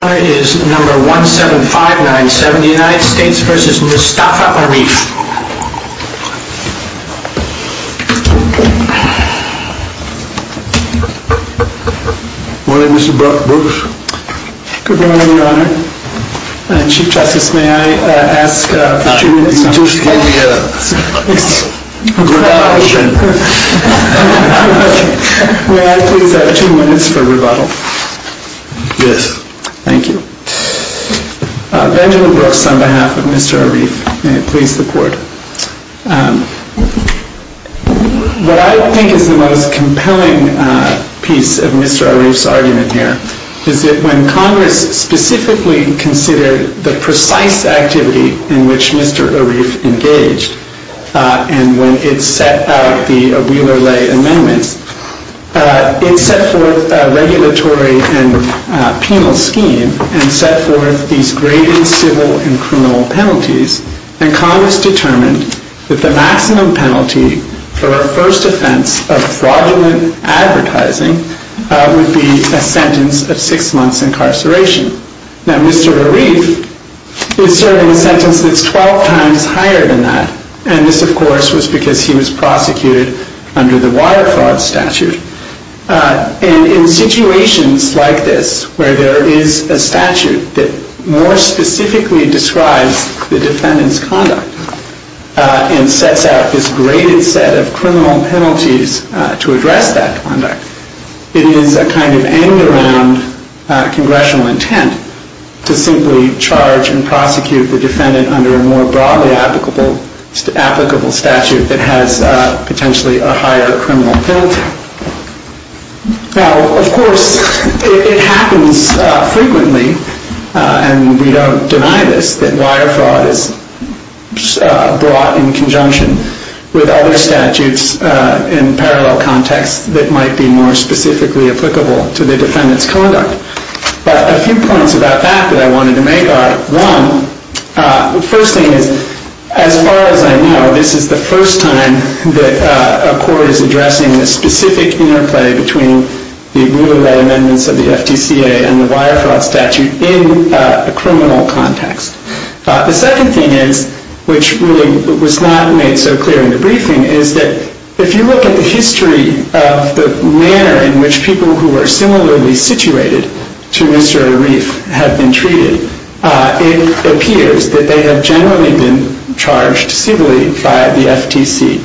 Good morning, Mr. Brooks. Good morning, Your Honor. Chief Justice, may I ask for two minutes Yes. Thank you. Benjamin Brooks, on behalf of Mr. Arif, may it please the Court. What I think is the most compelling piece of Mr. Arif's argument here is that when Congress specifically considered the precise activity in which Mr. Arif engaged, and when it set out the Wheeler-Ley amendments, it set forth a regulatory and penal scheme and set forth these graded civil and criminal penalties, and Congress determined that the maximum penalty for a first offense of fraudulent advertising would be a sentence of six months incarceration. Now, Mr. Arif is serving a sentence that's 12 times higher than that, and this, of course, was because he was prosecuted under the Water Fraud Statute. And in situations like this, where there is a statute that more specifically describes the defendant's conduct and sets out this graded set of criminal penalties to address that conduct, it is a kind of end-around congressional intent to simply charge and prosecute the defendant under a more broadly applicable statute that has potentially a higher criminal penalty. Now, of course, it happens frequently, and we don't deny this, that wire fraud is brought in conjunction with other statutes in parallel contexts that might be more specifically applicable to the defendant's conduct. But a few points about that that I wanted to make are, one, the first thing is, as far as I know, this is the first time that a court is addressing the specific interplay between the Wheeler-Ley amendments of the FTCA and the Wire Fraud Statute in a criminal context. The second thing is, which really was not made so clear in the briefing, is that if you look at the history of the manner in which people who were similarly situated to Mr. Arif have been treated, it appears that they have generally been charged civilly by the FTC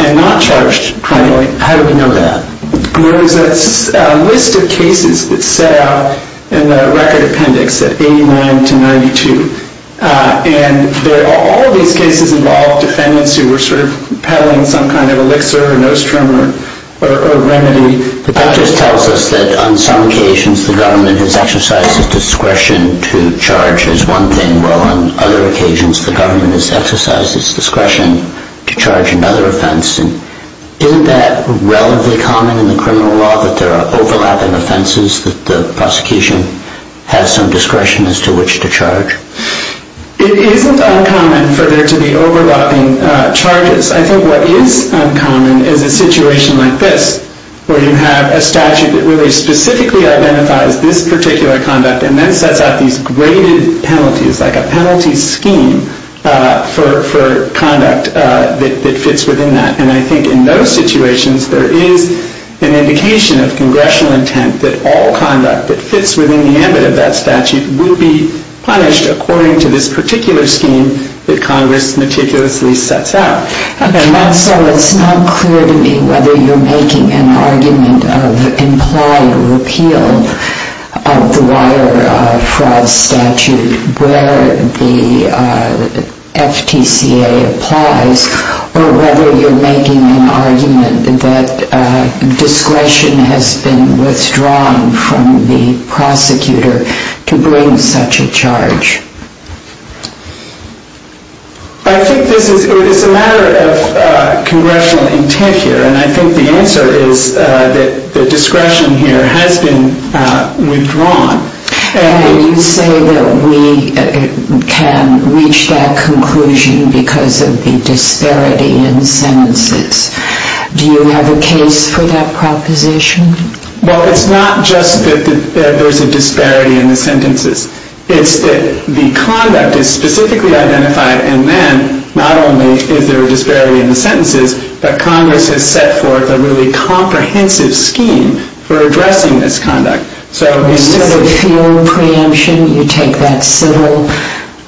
and not charged criminally. How do we know that? There is a list of cases that set out in the record appendix at 89 to 92, and all of these cases involved defendants who were sort of peddling some kind of elixir or nostrum or remedy. That just tells us that on some occasions the government has exercised its discretion to charge as one thing, while on other occasions the government has exercised its discretion to charge another offense. Isn't that relatively common in the criminal law, that there are overlapping offenses that the prosecution has some discretion as to which to charge? It isn't uncommon for there to be overlapping charges. I think what is uncommon is a situation like this, where you have a statute that really specifically identifies this particular conduct and then sets out these graded penalties, like a penalty scheme for conduct that fits within that. And I think in those situations there is an indication of congressional intent that all conduct that fits within the ambit of that statute will be punished according to this particular scheme that Congress meticulously sets out. It's not clear to me whether you're making an argument of implied repeal of the Waterfrog statute where the FTCA applies, or whether you're making an argument that discretion has been withdrawn from the prosecutor to bring such a charge. I think this is a matter of congressional intent here, and I think the answer is that the discretion here has been withdrawn. You say that we can reach that conclusion because of the disparity in sentences. Do you have a case for that proposition? Well, it's not just that there's a disparity in the sentences. It's that the conduct is specifically identified, and then not only is there a disparity in the sentences, but Congress has set forth a really comprehensive scheme for addressing this conduct. So instead of field preemption, you take that civil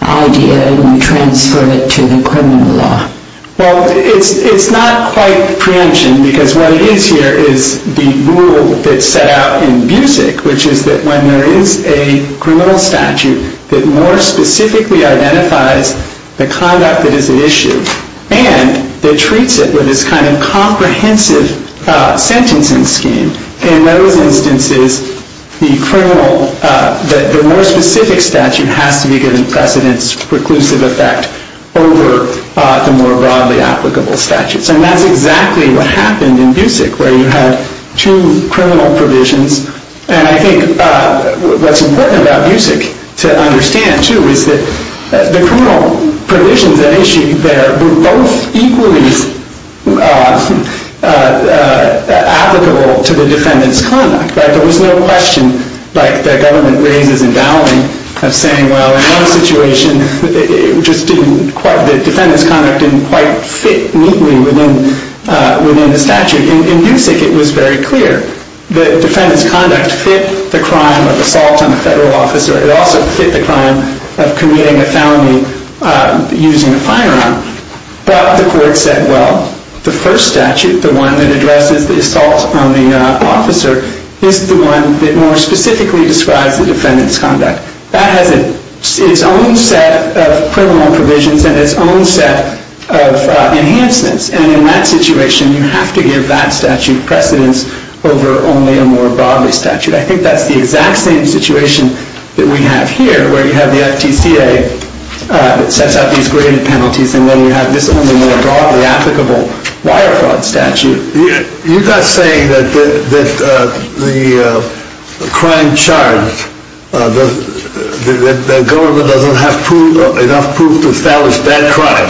idea and you transfer it to the criminal law. Well, it's not quite preemption, because what it is here is the rule that's set out in BUSIC, which is that when there is a criminal statute that more specifically identifies the conduct that is at issue, and that treats it with this kind of comprehensive sentencing scheme, in those instances, the more specific statute has to be given precedence, preclusive effect, over the more specific statute. And that's exactly what happened in BUSIC, where you had two criminal provisions. And I think what's important about BUSIC to understand, too, is that the criminal provisions at issue there were both equally applicable to the defendant's conduct. But there was no question, like the government raises in Dowling, of saying, well, in one situation, the defendant's conduct didn't quite fit neatly within the statute. In BUSIC, it was very clear. The defendant's conduct fit the crime of assault on a federal officer. It also fit the crime of committing a felony using a firearm. But the court said, well, the first statute, the one that addresses the assault on the officer, is the one that more specifically describes the defendant's conduct. That has its own set of criminal provisions and its own set of enhancements. And in that situation, you have to give that statute precedence over only a more broadly statute. I think that's the exact same situation that we have here, where you have the FTCA that sets out these graded penalties, and then you have this only more broadly applicable wire fraud statute. You're not saying that the crime charged, the government doesn't have enough proof to establish that crime,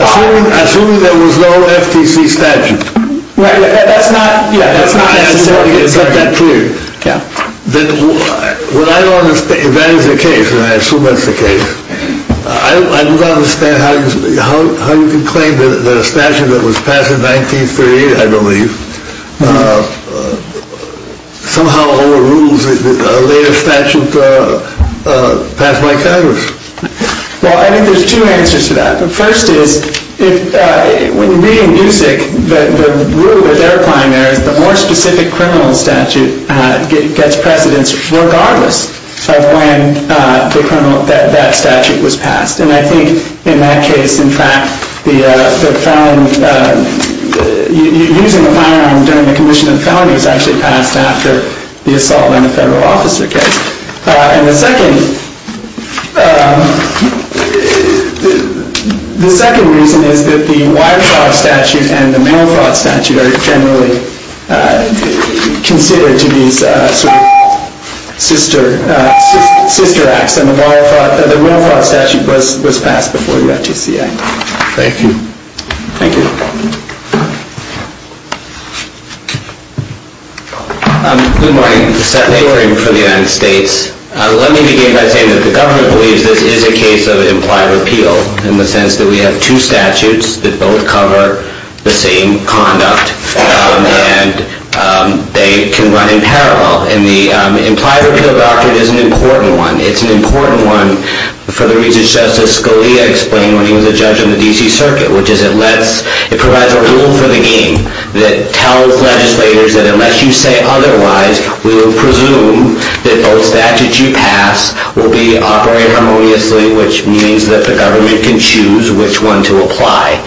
assuming there was no FTC statute. That's not necessarily the case. Is that clear? Yeah. If that is the case, and I assume that's the case, I don't understand how you can claim that a statute that was passed in 1938, I believe, somehow overrules a later statute passed by Congress. Well, I think there's two answers to that. The first is, when reading Musick, the rule that they're applying there is the more specific criminal statute gets precedence regardless of when that statute was passed. And I think in that case, in fact, using a firearm during the commission of felony was actually passed after the assault on the federal officer case. And the second reason is that the wire fraud statute and the mail fraud statute are generally considered to be sort of sister acts. And the mail fraud statute was passed before the FTCA. Thank you. Thank you. Good morning. Seth Lavering for the United States. Let me begin by saying that the government believes this is a case of implied repeal, in the sense that we have two statutes that both cover the same conduct. And they can run in parallel. And the implied repeal doctrine is an important one. It's an important one for the reasons Justice Scalia explained when he was a judge on the DC Circuit, which is it provides a rule for the game that tells legislators that unless you say otherwise, we will presume that both statutes you pass will be operated harmoniously, which means that the government can choose which one to apply.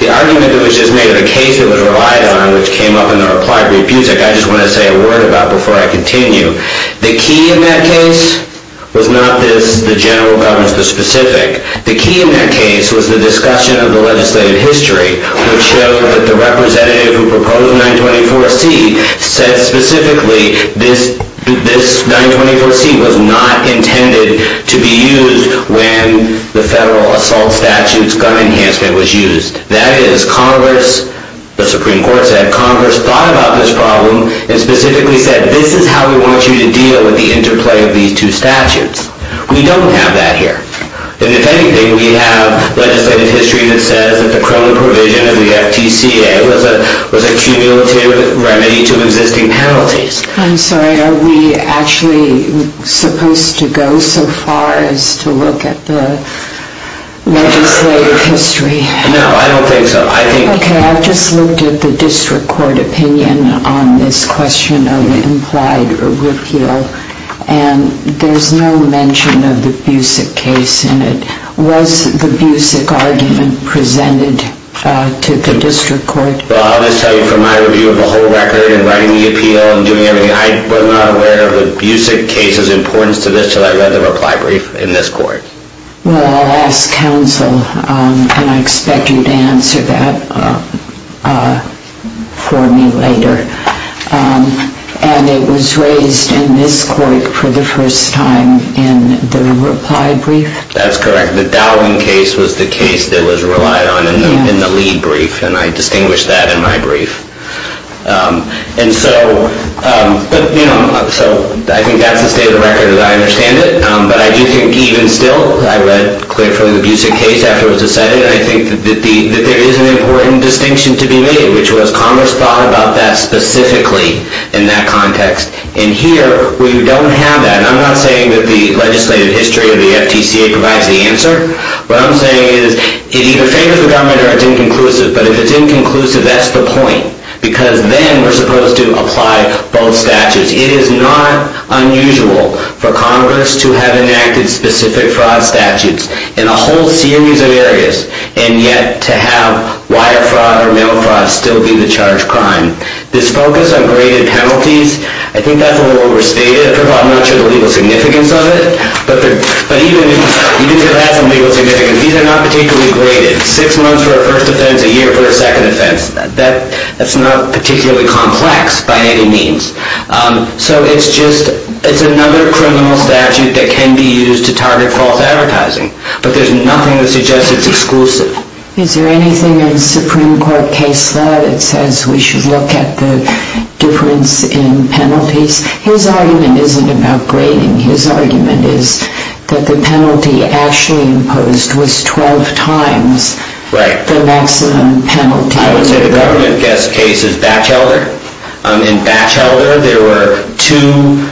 The argument that was just made of a case that was relied on, which came up in the implied repeal, which I just want to say a word about before I continue. The key in that case was not this, the general government's specific. The key in that case was the discussion of the legislative history, which showed that the representative who proposed 924C said specifically this 924C was not intended to be used when the federal assault statute's gun enhancement was used. That is, Congress, the Supreme Court said, Congress thought about this problem and specifically said, this is how we want you to deal with the interplay of these two statutes. We don't have that here. And if anything, we have legislative history that says that the criminal provision of the FTCA was a cumulative remedy to existing penalties. I'm sorry, are we actually supposed to go so far as to look at the legislative history? No, I don't think so. Okay, I just looked at the district court opinion on this question of implied repeal, and there's no mention of the Busick case in it. Was the Busick argument presented to the district court? Well, I'll just tell you from my review of the whole record and writing the appeal and doing everything, I was not aware of the Busick case's importance to this until I read the reply brief in this court. Well, I'll ask counsel, and I expect you to answer that for me later. And it was raised in this court for the first time in the reply brief? That's correct. The Dowling case was the case that was relied on in the lead brief, and I distinguished that in my brief. And so I think that's the state of the record, and I understand it. But I do think even still, I read clearly the Busick case after it was decided, and I think that there is an important distinction to be made, which was Congress thought about that specifically in that context. And here, we don't have that. And I'm not saying that the legislative history of the FTCA provides the answer. What I'm saying is it either favors the government or it's inconclusive. But if it's inconclusive, that's the point, because then we're supposed to apply both statutes. It is not unusual for Congress to have enacted specific fraud statutes in a whole series of areas, and yet to have wire fraud or mail fraud still be the charged crime. This focus on graded penalties, I think that's a little overstated. I'm not sure the legal significance of it. But even if it has some legal significance, these are not particularly graded. Six months for a first offense, a year for a second offense. That's not particularly complex by any means. So it's just another criminal statute that can be used to target false advertising. But there's nothing that suggests it's exclusive. Is there anything in the Supreme Court case law that says we should look at the difference in penalties? His argument isn't about grading. His argument is that the penalty actually imposed was 12 times the maximum penalty. I would say the government case is Batchelder. In Batchelder, there were two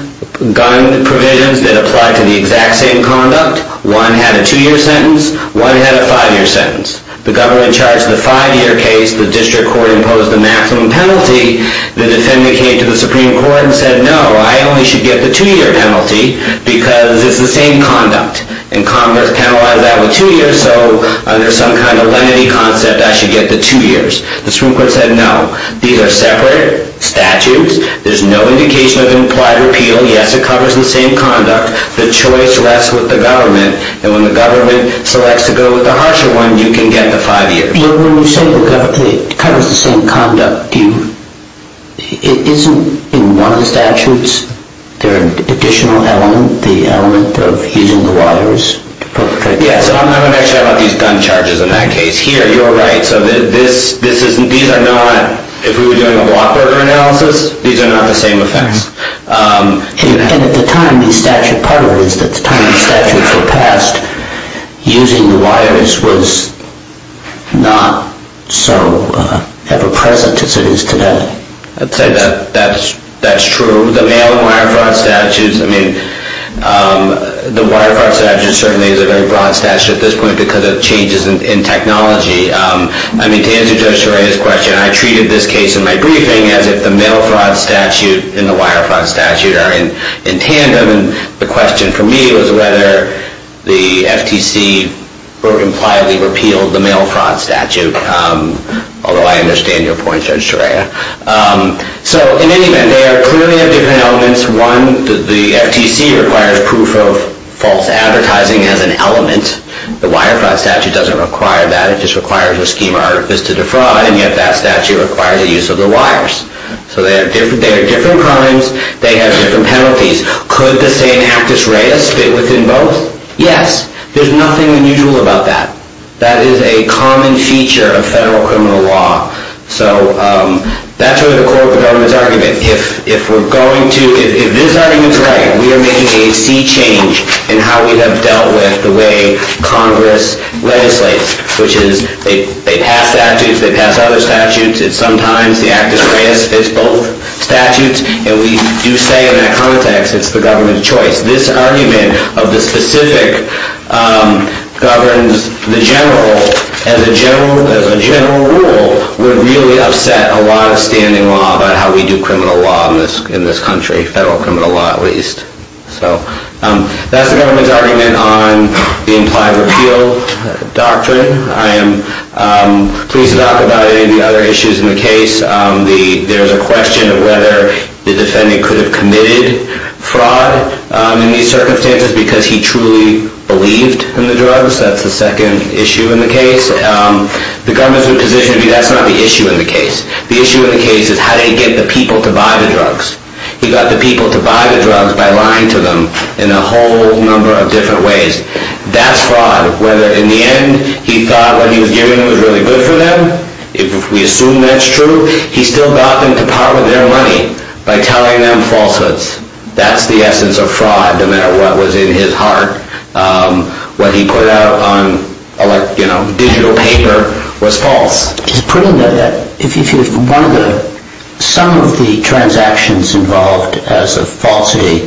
gun provisions that applied to the exact same conduct. One had a two-year sentence. One had a five-year sentence. The government charged the five-year case. The district court imposed the maximum penalty. The defendant came to the Supreme Court and said, no, I only should get the two-year penalty because it's the same conduct. And Congress penalized that with two years. So under some kind of lenity concept, I should get the two years. The Supreme Court said, no. These are separate statutes. There's no indication of implied repeal. Yes, it covers the same conduct. The choice rests with the government. And when the government selects to go with the harsher one, you can get the five years. When you say it covers the same conduct, isn't in one of the statutes there an additional element, the element of using the wires? Yes. I'm not going to mention about these gun charges in that case. Here, you're right. So these are not, if we were doing a walk-order analysis, these are not the same effects. And at the time, the statute, part of it is that the time the statutes were passed, using the wires was not so ever-present as it is today. I'd say that's true. The mail and wire fraud statutes, I mean, the wire fraud statute certainly is a very broad statute at this point because of changes in technology. I mean, to answer Judge Torea's question, I treated this case in my briefing as if the mail fraud statute and the wire fraud statute are in tandem. And the question for me was whether the FTC impliedly repealed the mail fraud statute, although I understand your point, Judge Torea. So in any event, they are clearly different elements. One, the FTC requires proof of false advertising as an element. The wire fraud statute doesn't require that. It just requires a schema artifice to defraud, and yet that statute requires the use of the wires. So they are different crimes. They have different penalties. Could the same actus reus fit within both? Yes. There's nothing unusual about that. That is a common feature of federal criminal law. So that's really the core of the government's argument. If we're going to – if this argument is right, we are making a sea change in how we have dealt with the way Congress legislates, which is they pass statutes, they pass other statutes. It's sometimes the actus reus fits both statutes, and we do say in that context it's the government's choice. This argument of the specific governs the general, as a general rule, would really upset a lot of standing law about how we do criminal law in this country, federal criminal law at least. So that's the government's argument on the implied repeal doctrine. I am pleased to talk about any other issues in the case. There's a question of whether the defendant could have committed fraud in these circumstances because he truly believed in the drugs. That's the second issue in the case. The government's position would be that's not the issue in the case. The issue in the case is how did he get the people to buy the drugs. He got the people to buy the drugs by lying to them in a whole number of different ways. That's fraud. Whether in the end he thought what he was giving them was really good for them, if we assume that's true. He still got them to par with their money by telling them falsehoods. That's the essence of fraud, no matter what was in his heart. What he put out on digital paper was false. Some of the transactions involved as a falsity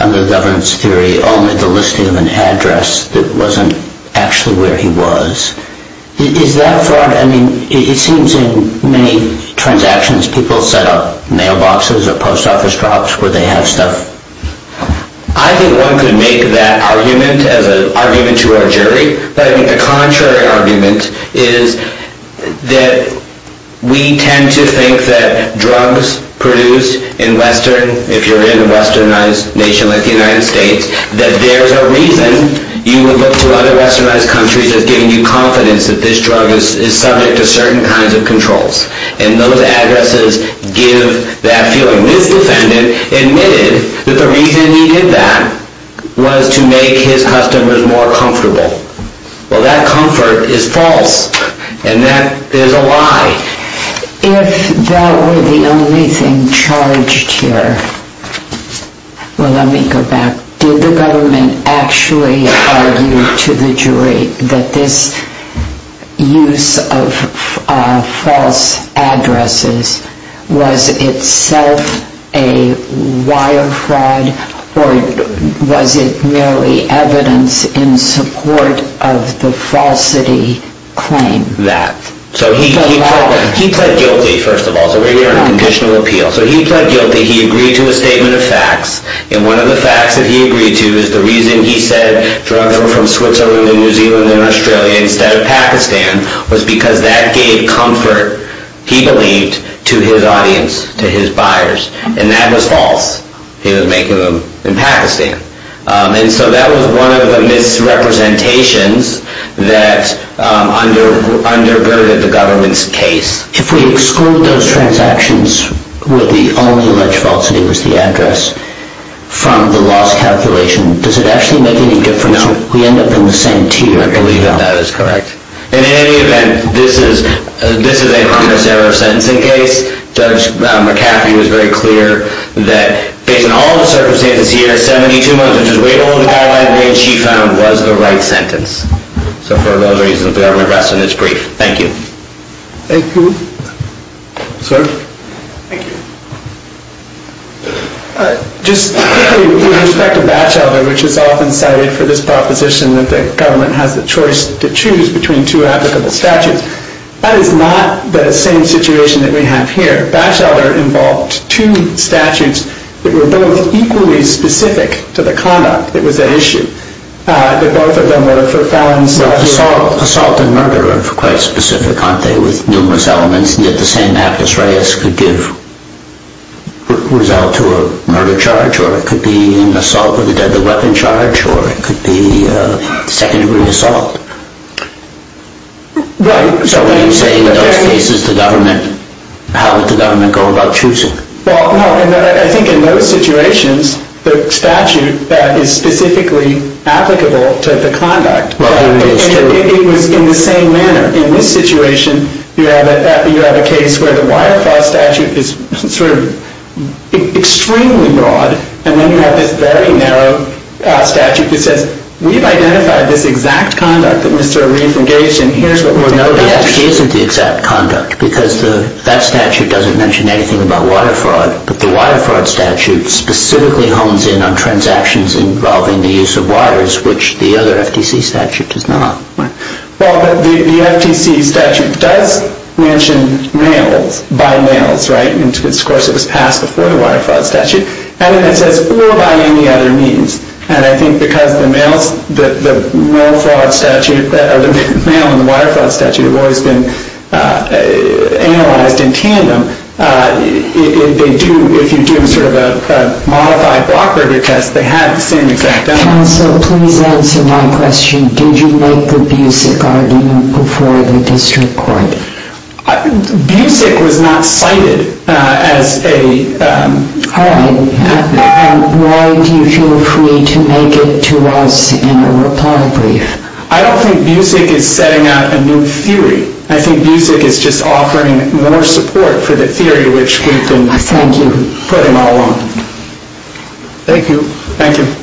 under the government's theory only the listing of an address that wasn't actually where he was. Is that fraud? It seems in many transactions people set up mailboxes or post office drops where they have stuff. I think one could make that argument as an argument to our jury. But I think the contrary argument is that we tend to think that drugs produced in western, if you're in a westernized nation like the United States, that there's a reason you would look to other westernized countries as giving you confidence that this drug is subject to certain kinds of controls. And those addresses give that feeling. So this defendant admitted that the reason he did that was to make his customers more comfortable. Well, that comfort is false. And that is a lie. If that were the only thing charged here, well, let me go back. Did the government actually argue to the jury that this use of false addresses was itself a wire fraud? Or was it merely evidence in support of the falsity claim? That. So he pled guilty, first of all. So we were in a conditional appeal. So he pled guilty. He agreed to a statement of facts. And one of the facts that he agreed to is the reason he said drugs were from Switzerland and New Zealand and Australia instead of Pakistan was because that gave comfort, he believed, to his audience, to his buyers. And that was false. He was making them in Pakistan. And so that was one of the misrepresentations that undergirded the government's case. If we exclude those transactions where the only alleged falsity was the address from the loss calculation, does it actually make any difference? No. We end up in the same tier. I believe that that is correct. And in any event, this is a harmless error of sentencing case. Judge McCaffrey was very clear that based on all the circumstances here, 72 months, which is way below the guideline range she found, was the right sentence. So for those reasons, the government rested its brief. Thank you. Thank you. Sir? Thank you. Just quickly, with respect to Batchelder, which is often cited for this proposition that the government has the choice to choose between two applicable statutes, that is not the same situation that we have here. Batchelder involved two statutes that were both equally specific to the conduct that was at issue. Both of them were for felons. Assault and murder are quite specific, aren't they, with numerous elements, and yet the same act as Reyes could give result to a murder charge, or it could be an assault with a deadly weapon charge, or it could be second-degree assault. Right. So when you say in those cases the government, how would the government go about choosing? Well, no, I think in those situations the statute that is specifically applicable to the conduct, it was in the same manner. In this situation, you have a case where the Wirefall statute is sort of extremely broad, and then you have this very narrow statute that says we've identified this exact conduct that Mr. Reif engaged in, here's what we're going to do. But the FTC isn't the exact conduct, because that statute doesn't mention anything about water fraud, but the Water Fraud statute specifically hones in on transactions involving the use of waters, which the other FTC statute does not. Well, but the FTC statute does mention males, by males, right, and of course it was passed before the Water Fraud statute, and then it says we'll by any other means, and I think because the males in the Water Fraud statute have always been analyzed in tandem, if you do sort of a modified block-order test, they have the same exact conduct. Counsel, please answer my question. Did you make the Busick argument before the district court? Busick was not cited as a... Why do you feel free to make it to us in a reply brief? I don't think Busick is setting out a new theory. I think Busick is just offering more support for the theory which we've been putting all along. Thank you. Thank you.